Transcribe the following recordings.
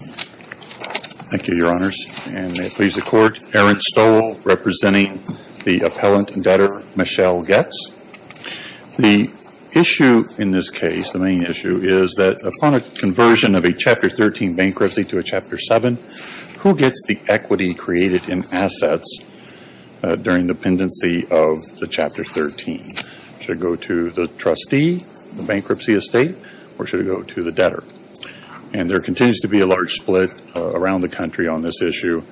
Thank you, Your Honors. And may it please the Court, Aaron Stoll representing the appellant and debtor, Machele Goetz. The issue in this case, the main issue, is that upon a conversion of a Chapter 13 bankruptcy to a Chapter 7, who gets the equity created in assets during dependency of the Chapter 13? Should it go to the trustee, the bankruptcy estate, or should it go to the debtor? And there continues to be a large split around the country on this issue.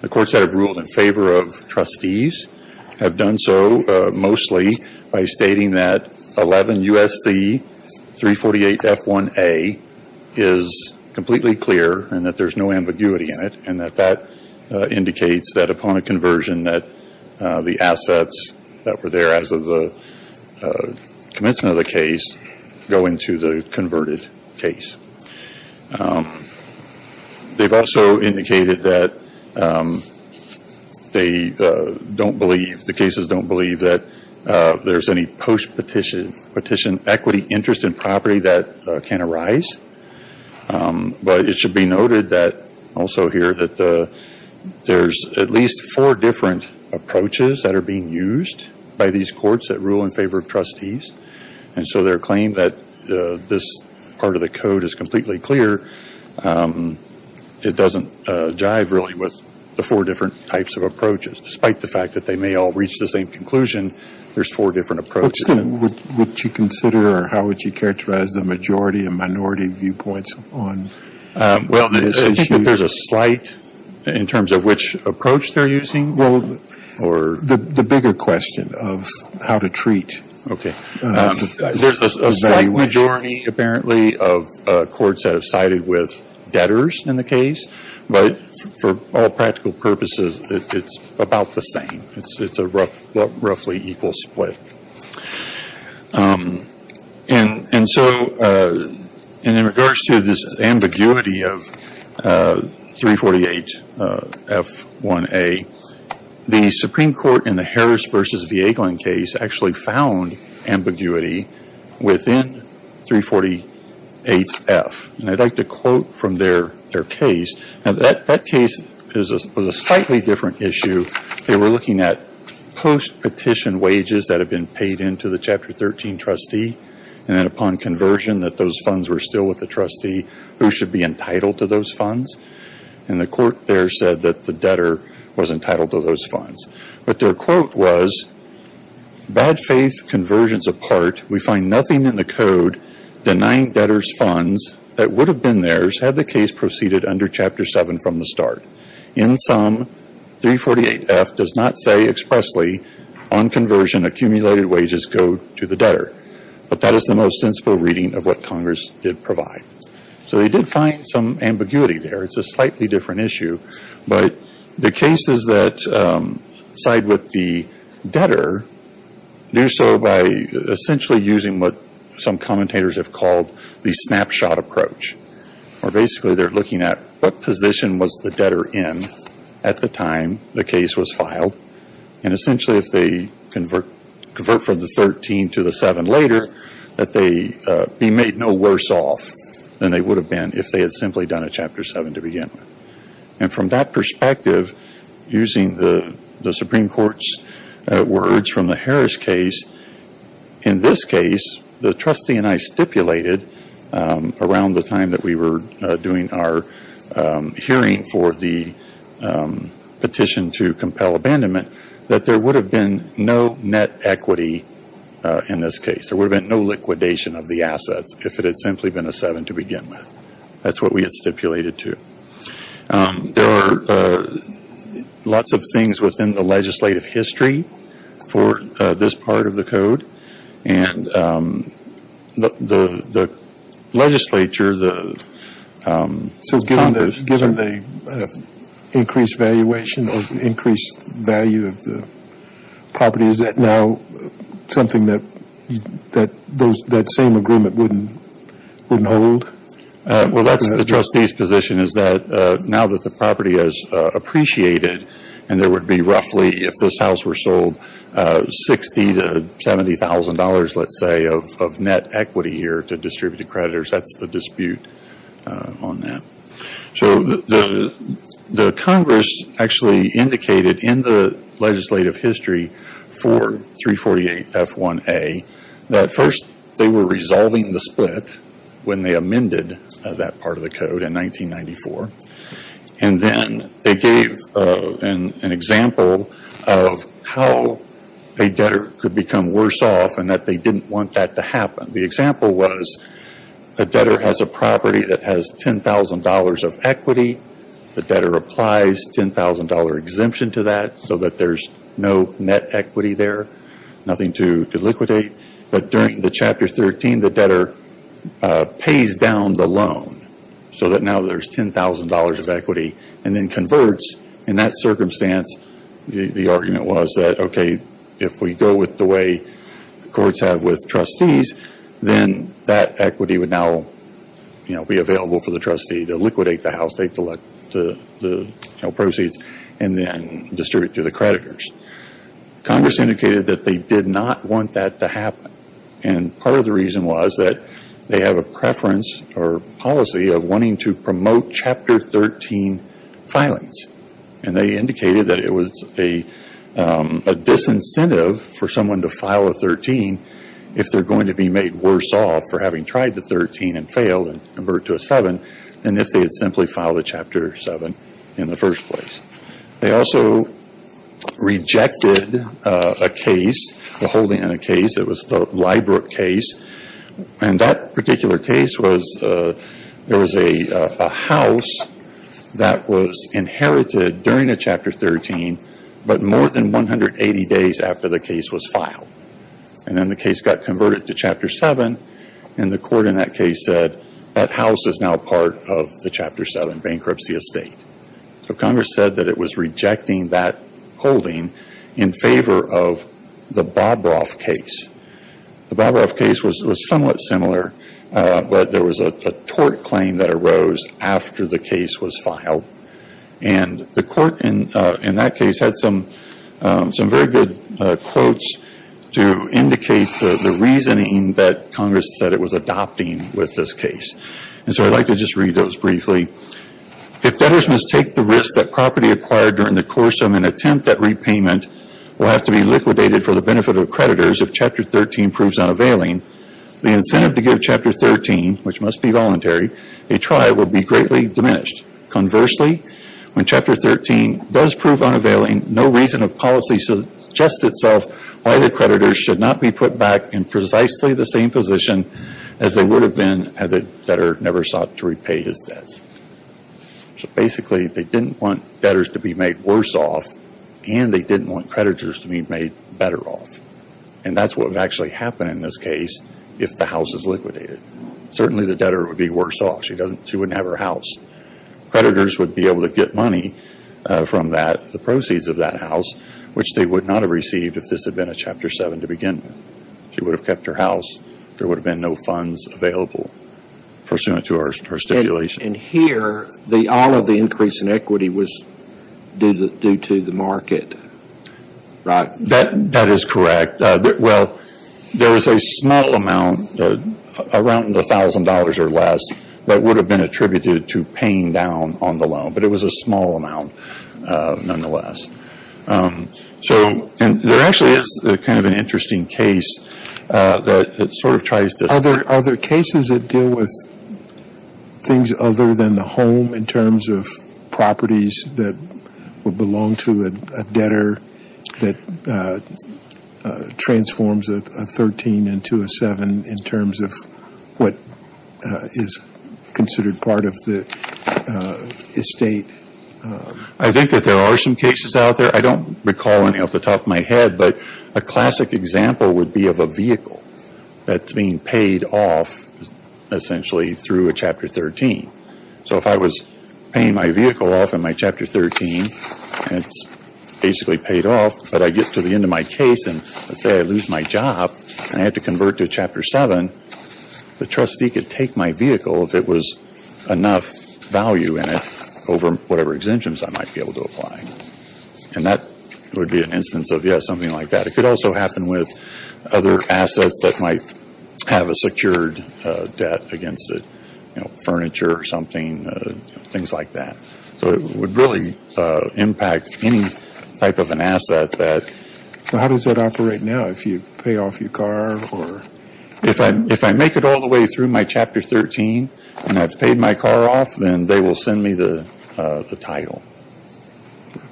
The courts that have ruled in favor of trustees have done so mostly by stating that 11 U.S.C. 348 F1A is completely clear and that there's no ambiguity in it, and that that indicates that upon a conversion that the assets that were there as of the commencement of the case go into the converted case. They've also indicated that they don't believe, the cases don't believe that there's any post-petition equity interest in property that can arise. But it should be noted that, also here, that there's at least four different approaches that are being used by these courts that rule in favor of trustees. And so their claim that this part of the code is completely clear, it doesn't jive, really, with the four different types of approaches. Despite the fact that they may all reach the same conclusion, there's four different approaches. What would you consider or how would you characterize the majority and minority viewpoints on this issue? There's a slight, in terms of which approach they're using? Well, the bigger question of how to treat. Okay. There's a slight majority, apparently, of courts that have sided with debtors in the case. But for all practical purposes, it's about the same. It's a roughly equal split. And so, in regards to this ambiguity of 348F1A, the Supreme Court in the Harris v. Vieglin case actually found ambiguity within 348F. And I'd like to quote from their case. Now, that case was a slightly different issue. They were looking at post-petition wages that had been paid into the Chapter 13 trustee. And then upon conversion, that those funds were still with the trustee who should be entitled to those funds. And the court there said that the debtor was entitled to those funds. But their quote was, bad faith conversions apart, we find nothing in the code denying debtors funds that would have been theirs had the case proceeded under Chapter 7 from the start. In sum, 348F does not say expressly, on conversion, accumulated wages go to the debtor. But that is the most sensible reading of what Congress did provide. So they did find some ambiguity there. It's a slightly different issue. But the cases that side with the debtor, do so by essentially using what some commentators have called the snapshot approach. Or basically, they're looking at what position was the debtor in at the time the case was filed. And essentially, if they convert from the 13 to the 7 later, that they be made no worse off than they would have been if they had simply done a Chapter 7 to begin with. And from that perspective, using the Supreme Court's words from the Harris case, in this case, the trustee and I stipulated around the time that we were doing our hearing for the petition to compel abandonment, that there would have been no net equity in this case. There would have been no liquidation of the assets if it had simply been a 7 to begin with. That's what we had stipulated, too. There are lots of things within the legislative history for this part of the Code. And the Legislature, the Congress... So given the increased valuation or increased value of the property, is that now something that that same agreement wouldn't hold? Well, that's the trustee's position is that now that the property is appreciated and there would be roughly, if this house were sold, $60,000 to $70,000, let's say, of net equity here to distributed creditors, that's the dispute on that. So the Congress actually indicated in the legislative history for 348F1A that first they were resolving the split when they amended that part of the Code in 1994. And then they gave an example of how a debtor could become worse off and that they didn't want that to of equity. The debtor applies $10,000 exemption to that so that there's no net equity there, nothing to liquidate. But during the Chapter 13, the debtor pays down the loan so that now there's $10,000 of equity and then converts. In that circumstance, the argument was that okay, if we go with the way courts have with trustees, then that equity would now be available for the trustee to liquidate the house, take the proceeds and then distribute to the creditors. Congress indicated that they did not want that to happen. And part of the reason was that they have a preference or policy of wanting to promote Chapter 13 filings. And they indicated that it was a disincentive for someone to file a 13 if they're going to be made worse off for having tried the 13 and failed and converted to a 7 than if they had simply filed a Chapter 7 in the first place. They also rejected a case, the holding in a case. It was the Liebrook case. And that particular case was there was a house that was inherited during a Chapter 13 but more than 180 days after the case was filed. And then the case got converted to Chapter 7 and the court in that case said that house is now part of the Chapter 7 bankruptcy estate. So Congress said that it was rejecting that holding in favor of the Bobroff case. The Bobroff case was somewhat similar but there was a tort claim that arose after the case was filed. And the court in that case had some very good quotes to indicate the reasoning that Congress said it was adopting with this case. And so I'd like to just read those briefly. If debtors must take the risk that property acquired during the course of an attempt at repayment will have to be liquidated for the benefit of creditors if Chapter 13 proves unavailing, the incentive to give Chapter 13, which must be voluntary, a try will be greatly diminished. Conversely, when Chapter 13 does prove unavailing, no reason of policy suggests itself why the creditors should not be put back in precisely the same position as they would have been had the debtor never sought to repay his debts. So basically they didn't want debtors to be made worse off and they didn't want creditors to be made better off. And that's what would actually happen in this case if the house is liquidated. Certainly the debtor would be worse off. She wouldn't have her house. Creditors would be able to get money from that, the proceeds of that house, which they would not have received if this had been a Chapter 7 to begin with. She would have kept her house. There would have been no funds available pursuant to her stipulation. And here, all of the increase in equity was due to the market, right? That is correct. Well, there is a small amount, around $1,000 or less, that would have been paying down on the loan. But it was a small amount, nonetheless. So there actually is kind of an interesting case that sort of tries to Are there cases that deal with things other than the home in terms of properties that would belong to a debtor that transforms a 13 into a 7 in terms of what is considered part of the estate? I think that there are some cases out there. I don't recall any off the top of my head. But a classic example would be of a vehicle that is being paid off, essentially, through a Chapter 13. So if I was paying my vehicle off in my Chapter 13, and it is basically paid off, but I get to the end of my case, and let's say I lose my job and I have to enough value in it over whatever exemptions I might be able to apply. And that would be an instance of, yes, something like that. It could also happen with other assets that might have a secured debt against it, you know, furniture or something, things like that. So it would really impact any type of an asset that Well, how does that operate now, if you pay off your car or If I make it all the way through my Chapter 13 and I've paid my car off, then they will send me the title,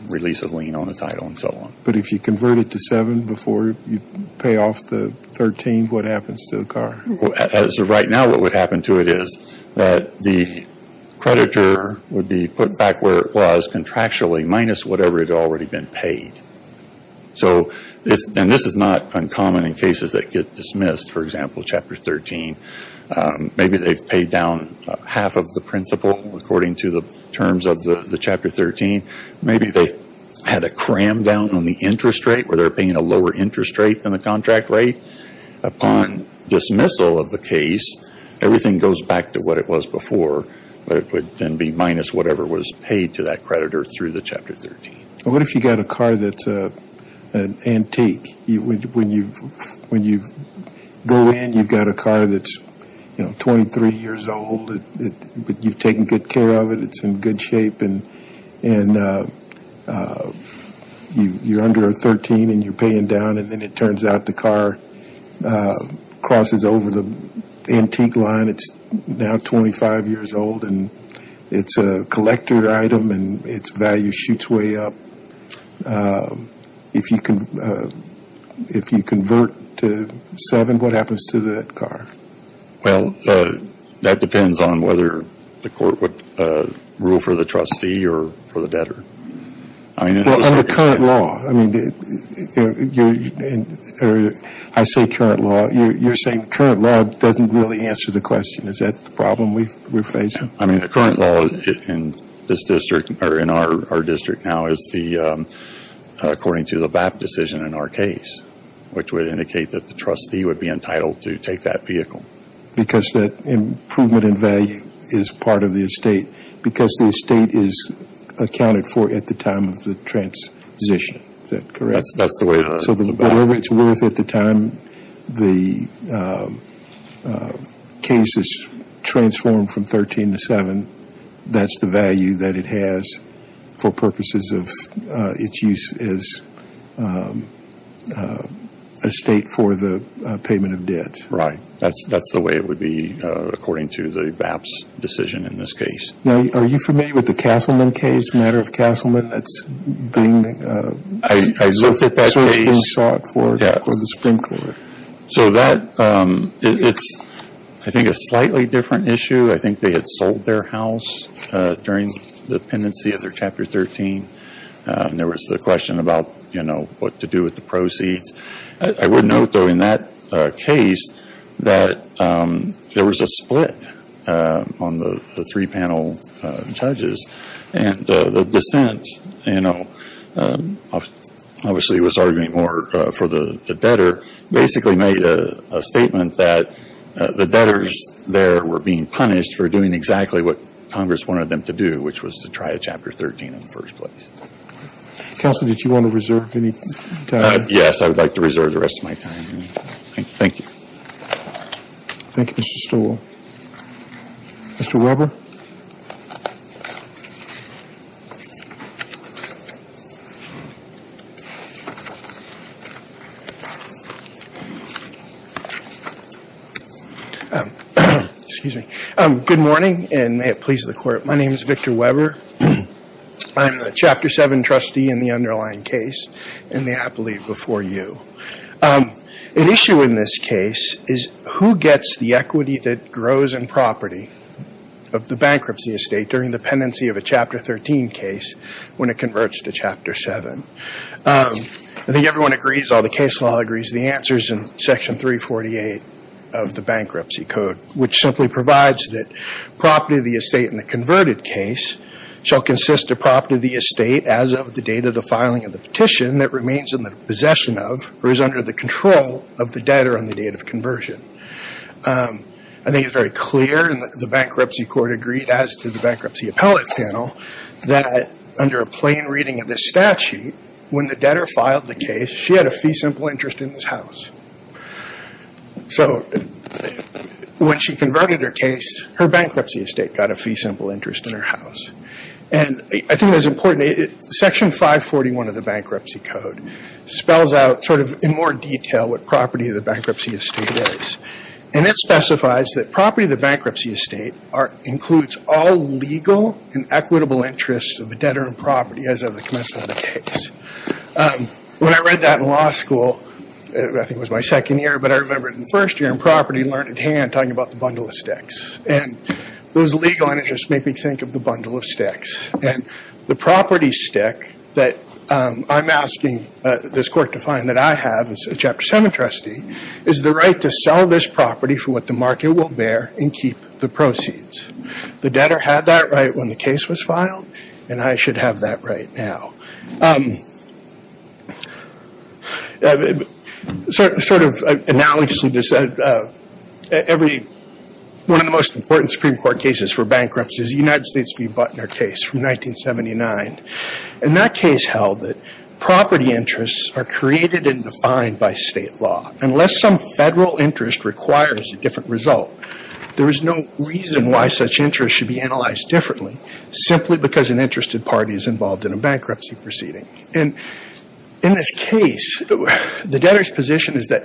release a lien on the title and so on. But if you convert it to 7 before you pay off the 13, what happens to the car? Right now what would happen to it is that the creditor would be put back where it was contractually minus whatever had already been paid. So, and this is not uncommon in cases that get dismissed, for example, Chapter 13. Maybe they've paid down half of the principal according to the terms of the Chapter 13. Maybe they had a cram down on the interest rate where they're paying a lower interest rate than the contract rate. Upon dismissal of the case, everything goes back to what it was before, but it would then be minus whatever was paid to that creditor through the Chapter 13. What if you've got a car that's an antique? When you go in, you've got a car that's 23 years old, but you've taken good care of it, it's in good shape, and you're under 13 and you're paying down, and then it turns out the car crosses over the antique line, it's now 25 years old, and it's a collector item and its value shoots way up. If you convert to seven, what happens to that car? Well, that depends on whether the court would rule for the trustee or for the debtor. Well, under current law, I mean, I say current law, you're saying current law doesn't really answer the question. Is that the problem we're facing? I mean, the current law in our district now is according to the BAP decision in our case, which would indicate that the trustee would be entitled to take that vehicle. Because that improvement in value is part of the estate, because the estate is accounted for at the time of the transition. Is that correct? That's the way the BAP... case is transformed from 13 to seven, that's the value that it has for purposes of its use as estate for the payment of debt. Right. That's the way it would be according to the BAP's decision in this case. Now, are you familiar with the Castleman case, the matter of Castleman that's being... I looked at that case. ...that's being sought for the Supreme Court? So that, it's, I think, a slightly different issue. I think they had sold their house during the pendency of their Chapter 13. There was the question about, you know, what to do with the proceeds. I would note, though, in that case, that there was a split on the three And, you know, they basically made a statement that the debtors there were being punished for doing exactly what Congress wanted them to do, which was to try a Chapter 13 in the first place. Counsel, did you want to reserve any time? Yes. I would like to reserve the rest of my time. Thank you. Thank you, Mr. Stoll. Mr. Weber? Excuse me. Good morning, and may it please the Court. My name is Victor Weber. I'm the Chapter 7 trustee in the underlying case in the appellate before you. An issue in this case is who gets the equity that grows in property of the bankruptcy estate during the pendency of a Chapter 13 case when it converts to Chapter 7? I think everyone agrees, all the case law agrees, the answer is in Section 348 of the Bankruptcy Code, which simply provides that property of the estate in the converted case shall consist of property of the estate as of the date of the filing of the petition that remains in the possession of, or is under the control of, the debtor on the date of conversion. I think it's very clear, and the Bankruptcy Court agreed as did the Bankruptcy Appellate Panel, that under a plain reading of this statute, when the debtor filed the case, she had a fee simple interest in this house. So when she converted her case, her bankruptcy estate got a fee simple interest in her house. I think it's important, Section 541 of the Bankruptcy Code spells out in more detail what property of the bankruptcy estate is. It specifies that property of the bankruptcy estate includes all legal and equitable interests of the debtor in property as of the commencement of the case. When I read that in law school, I think it was my second year, but I remember in first year in property, I learned at hand talking about the bundle of sticks. Those legal interests make me think of the bundle of sticks. The property stick that I'm asking this Court to find that I have as a Chapter 7 trustee is the right to sell this property for what the market will bear and keep the proceeds. The debtor had that right when the case was filed, and I should have that right now. Sort of analogously to this, one of the most important Supreme Court cases for bankruptcy is the United States v. Butner case from 1979. And that case held that property interests are created and defined by state law. Unless some federal interest requires a different result, there is no reason why such interest should be analyzed differently simply because an interested party is involved in a bankruptcy proceeding. And in this case, the debtor's position is that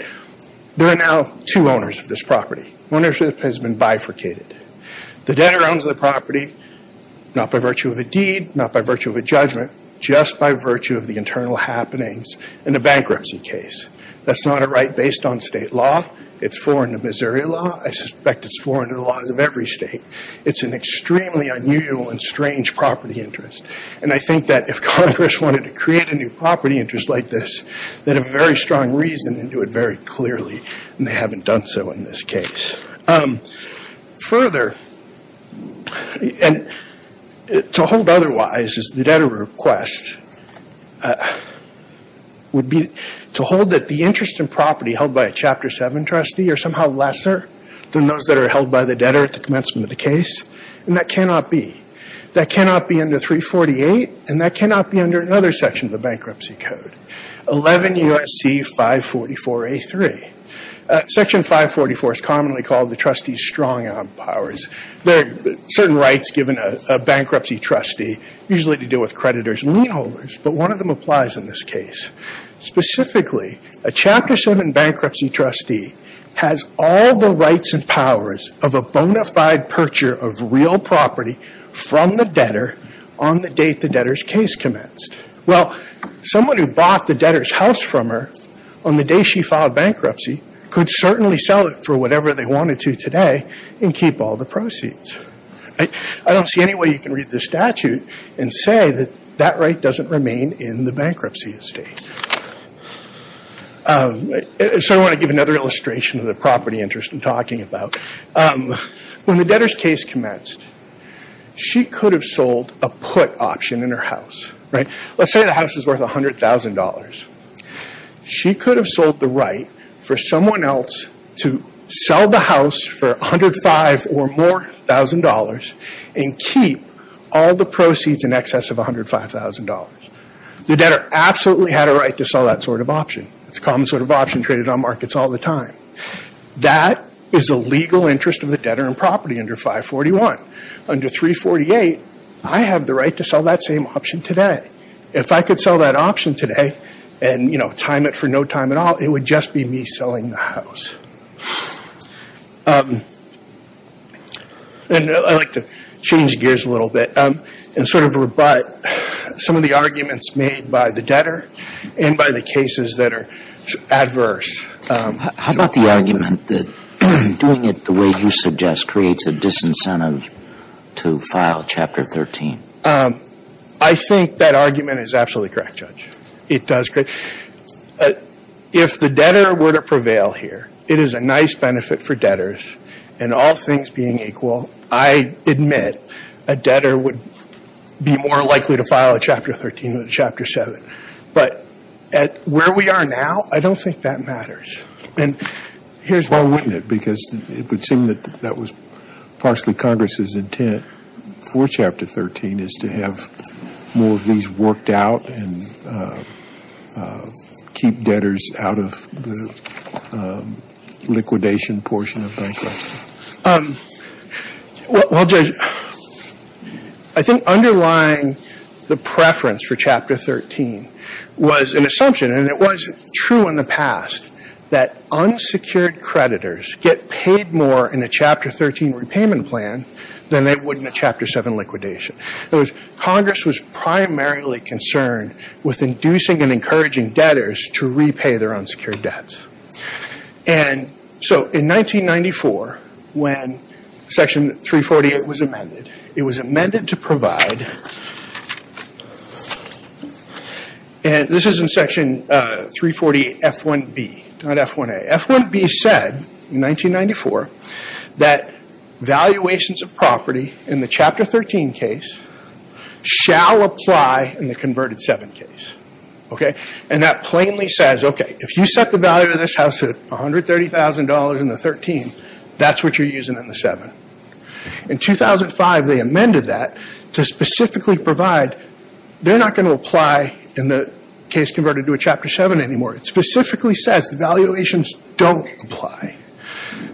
there are now two owners of this property. Ownership has been bifurcated. The debtor owns the property not by virtue of a deed, not by virtue of a judgment, just by virtue of the internal happenings in a bankruptcy case. That's not a right based on state law. It's foreign to Missouri law. I suspect it's an extremely unusual and strange property interest. And I think that if Congress wanted to create a new property interest like this, they'd have a very strong reason and do it very clearly, and they haven't done so in this case. Further, and to hold otherwise is the debtor request, would be to hold that the interest in property held by a Chapter 7 trustee are somehow lesser than those that are held by the debtor at the commencement of the case. And that cannot be. That cannot be under 348, and that cannot be under another section of the Bankruptcy Code, 11 U.S.C. 544A3. Section 544 is commonly called the trustee's strong arm powers. There are certain rights given a bankruptcy trustee, usually to do with creditors and lien holders, but one of them applies in this case. Specifically, a Chapter 7 bankruptcy trustee has all the rights and powers of a bona fide perjure of real property from the debtor on the date the debtor's case commenced. Well, someone who bought the debtor's house from her on the day she filed bankruptcy could certainly sell it for whatever they wanted to today and keep all the proceeds. I don't see any way you can read the statute and say that that right doesn't remain in the bankruptcy estate. So I want to give another illustration of the property interest I'm talking about. When the debtor's case commenced, she could have sold a put option in her house. Let's say the house is worth $100,000. She could have sold the right for someone else to sell the house for $105,000 or more and keep all the proceeds in excess of $105,000. The debtor absolutely had a right to sell that sort of option. It's a common sort of option traded on markets all the time. That is the legal interest of the debtor in property under 541. Under 348, I have the right to sell that same option today. If I could sell that option today and time it for no time at all, it would just be me selling the house. I'd like to change gears a little bit and sort of rebut some of the arguments made by the debtor and by the cases that are adverse. How about the argument that doing it the way you suggest creates a disincentive to file Chapter 13? I think that argument is absolutely correct, Judge. It does. If the debtor were to prevail here, it is a nice benefit for debtors. In all things being equal, I admit a debtor would be more likely to file a Chapter 13 than a Chapter 7. But where we are now, I don't think that matters. Well, wouldn't it? Because it would seem that that was partially Congress's intent for Chapter 13 is to have more of these worked out and keep debtors out of the liquidation portion of bankruptcy. Well, Judge, I think underlying the preference for Chapter 13 was an assumption. And it was true in the past that unsecured creditors get paid more in a Chapter 13 repayment plan than they would in a Chapter 7 liquidation. In other words, Congress was primarily concerned with inducing and encouraging debtors to repay their unsecured debts. And so in 1994, when Section 348 was amended, it was amended to the Chapter 13 case shall apply in the converted 7 case. And that plainly says, okay, if you set the value of this house at $130,000 in the 13, that's what you're using in the 7. In 2005, they amended that to specifically provide, they're not going to apply in the case converted to a Chapter 7 anymore. It specifically says the valuations don't apply.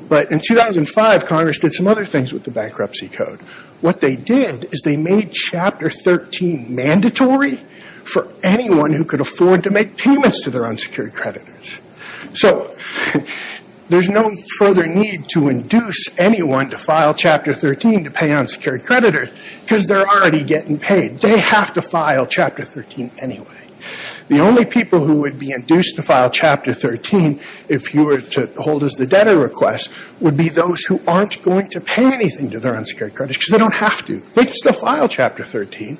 But in 2005, Congress did some other things with the bankruptcy code. What they did is they made Chapter 13 mandatory for anyone who could afford to make payments to their unsecured creditors. So there's no further need to induce anyone to file Chapter 13 to pay unsecured creditors because they're already getting paid. They have to file Chapter 13 anyway. The only people who would be induced to file Chapter 13 if you were to hold as the debtor request would be those who aren't going to pay anything to their unsecured creditors because they don't have to. They can still file Chapter 13.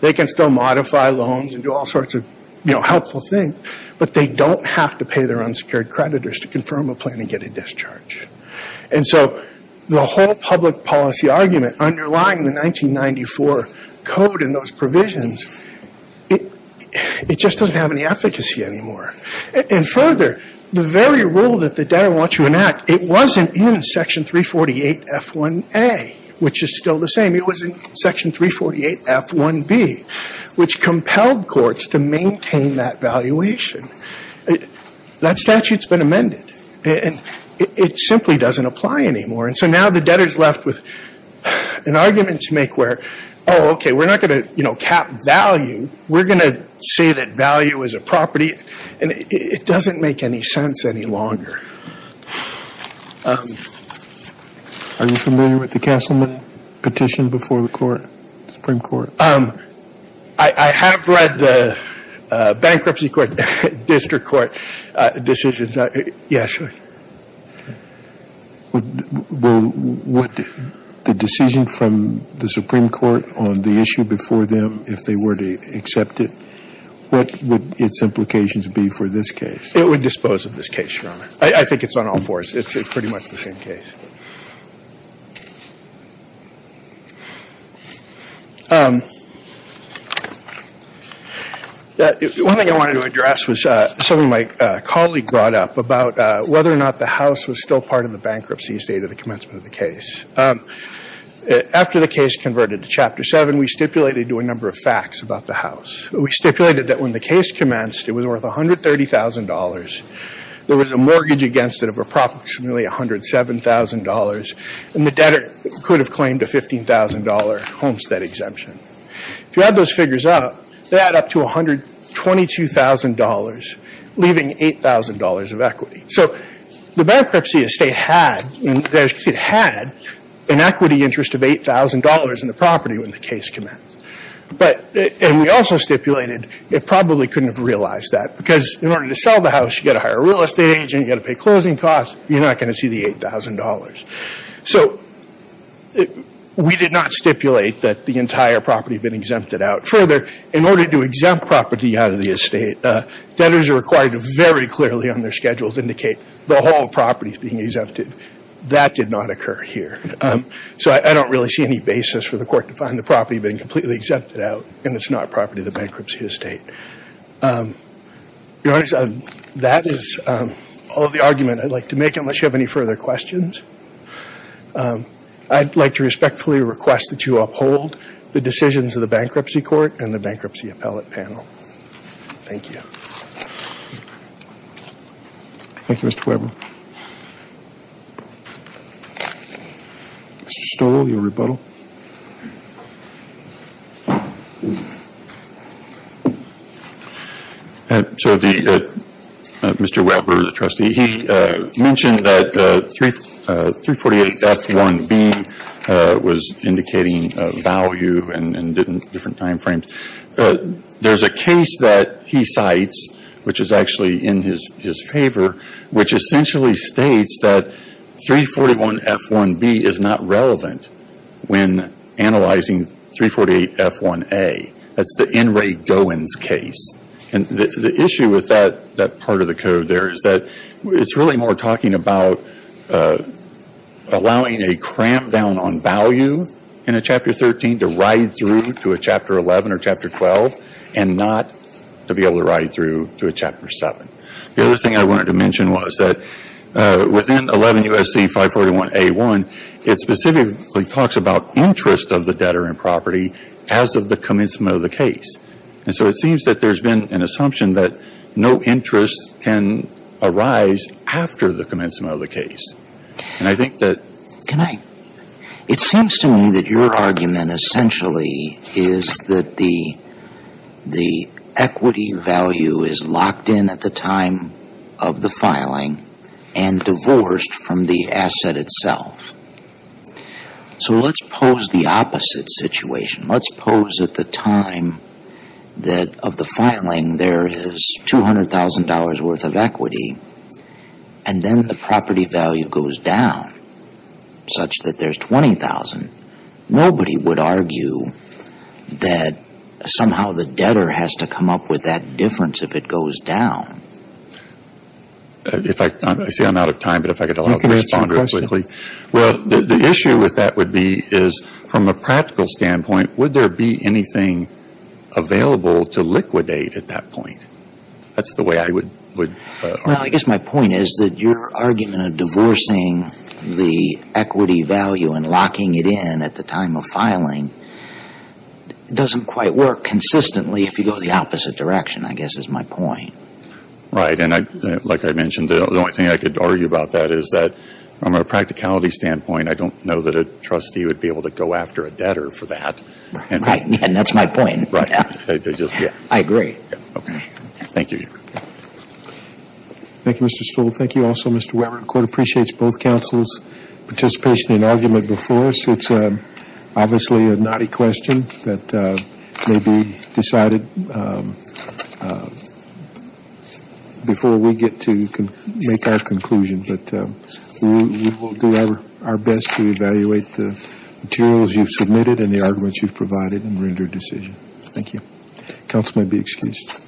They can still modify loans and do all sorts of helpful things, but they don't have to pay their unsecured creditors to confirm a plan and get a discharge. And so the whole public policy argument underlying the 1994 code and those provisions, it just doesn't have any efficacy anymore. And further, the very rule that the debtor wants you to enact, it wasn't in Section 348F1A, which is still the same. It was in Section 348F1B, which compelled courts to maintain that valuation. That statute's been amended. And it simply doesn't apply anymore. And so now the debtor's left with an argument to make where, oh, okay, we're not going to, cap value. We're going to say that value is a property. And it doesn't make any sense any longer. Are you familiar with the Castleman petition before the Supreme Court? I have read the Bankruptcy Court, District Court decisions. Yes, sir. Okay. Well, would the decision from the Supreme Court on the issue before them, if they were to accept it, what would its implications be for this case? It would dispose of this case, Your Honor. I think it's on all fours. It's pretty much the same case. One thing I wanted to address was something my colleague brought up about whether or not the House was still part of the bankruptcy state at the commencement of the case. After the case converted to Chapter 7, we stipulated to a number of facts about the House. We stipulated that when the case commenced, it was worth $130,000. There was a mortgage against it of approximately $107,000. And the debtor could have claimed a $15,000 homestead exemption. If you add those figures up, they add up to $122,000, leaving $8,000 of equity. So the bankruptcy estate had an equity interest of $8,000 in the property when the case commenced. And we also stipulated it probably couldn't have realized that, because in order to sell the House, you've got to hire a real estate agent, you've got to pay closing costs. You're not going to see the $8,000. So we did not stipulate that the entire property had been exempted out. Further, in order to exempt property out of the estate, debtors are required to very clearly on their schedules indicate the whole property is being exempted. That did not occur here. So I don't really see any basis for the court to find the property being completely exempted out and it's not property of the bankruptcy estate. That is all of the argument I'd like to make, unless you have any further questions. I'd like to respectfully request that you uphold the decisions of the Bankruptcy Court and the Bankruptcy Appellate Panel. Thank you. Thank you, Mr. Weber. Mr. Stoll, your rebuttal. Mr. Weber, the trustee, he mentioned that 348F1B was indicating value and different timeframes. There's a case that he cites, which is actually in his favor, which essentially states that 341F1B is not relevant when analyzing 348F1A. That's the N. Ray Goins case. And the issue with that part of the code there is that it's really more talking about allowing a cramp down on value in a Chapter 13 to ride through to a Chapter 11 or Chapter 12 and not to be able to ride through to a Chapter 7. The other thing I wanted to mention was that within 11 U.S.C. 541A1, it specifically talks about interest of the debtor in property as of the commencement of the case. And so it seems that there's been an assumption that no interest can arise after the commencement of the case. And I think that Can I? It seems to me that your argument essentially is that the equity value is locked in at the time of the filing and divorced from the asset itself. So let's pose the opposite situation. Let's pose at the time that of the filing there is $200,000 worth of equity, and then the property value goes down such that there's $20,000. Nobody would argue that somehow the debtor has to come up with that difference if it goes down. I see I'm out of time, but if I could allow the respond really quickly. You can answer the question. Well, the issue with that would be is from a practical standpoint, would there be anything available to liquidate at that point? That's the way I would argue. Well, I guess my point is that your argument of divorcing the equity value and locking it in at the time of filing doesn't quite work consistently if you go the opposite direction, I guess is my point. Right. And like I mentioned, the only thing I could argue about that is that from a practicality standpoint, I don't know that a trustee would be able to go after a debtor for that. Right. And that's my point. I agree. Thank you. Thank you, Mr. Stoll. Thank you also, Mr. Weber. The Court appreciates both counsels' participation in argument before us. It's obviously a knotty question that may be decided before we get to make our conclusion, but we will do our best to evaluate the materials you've submitted and the arguments you've provided and render a decision. Thank you. Counsel may be excused.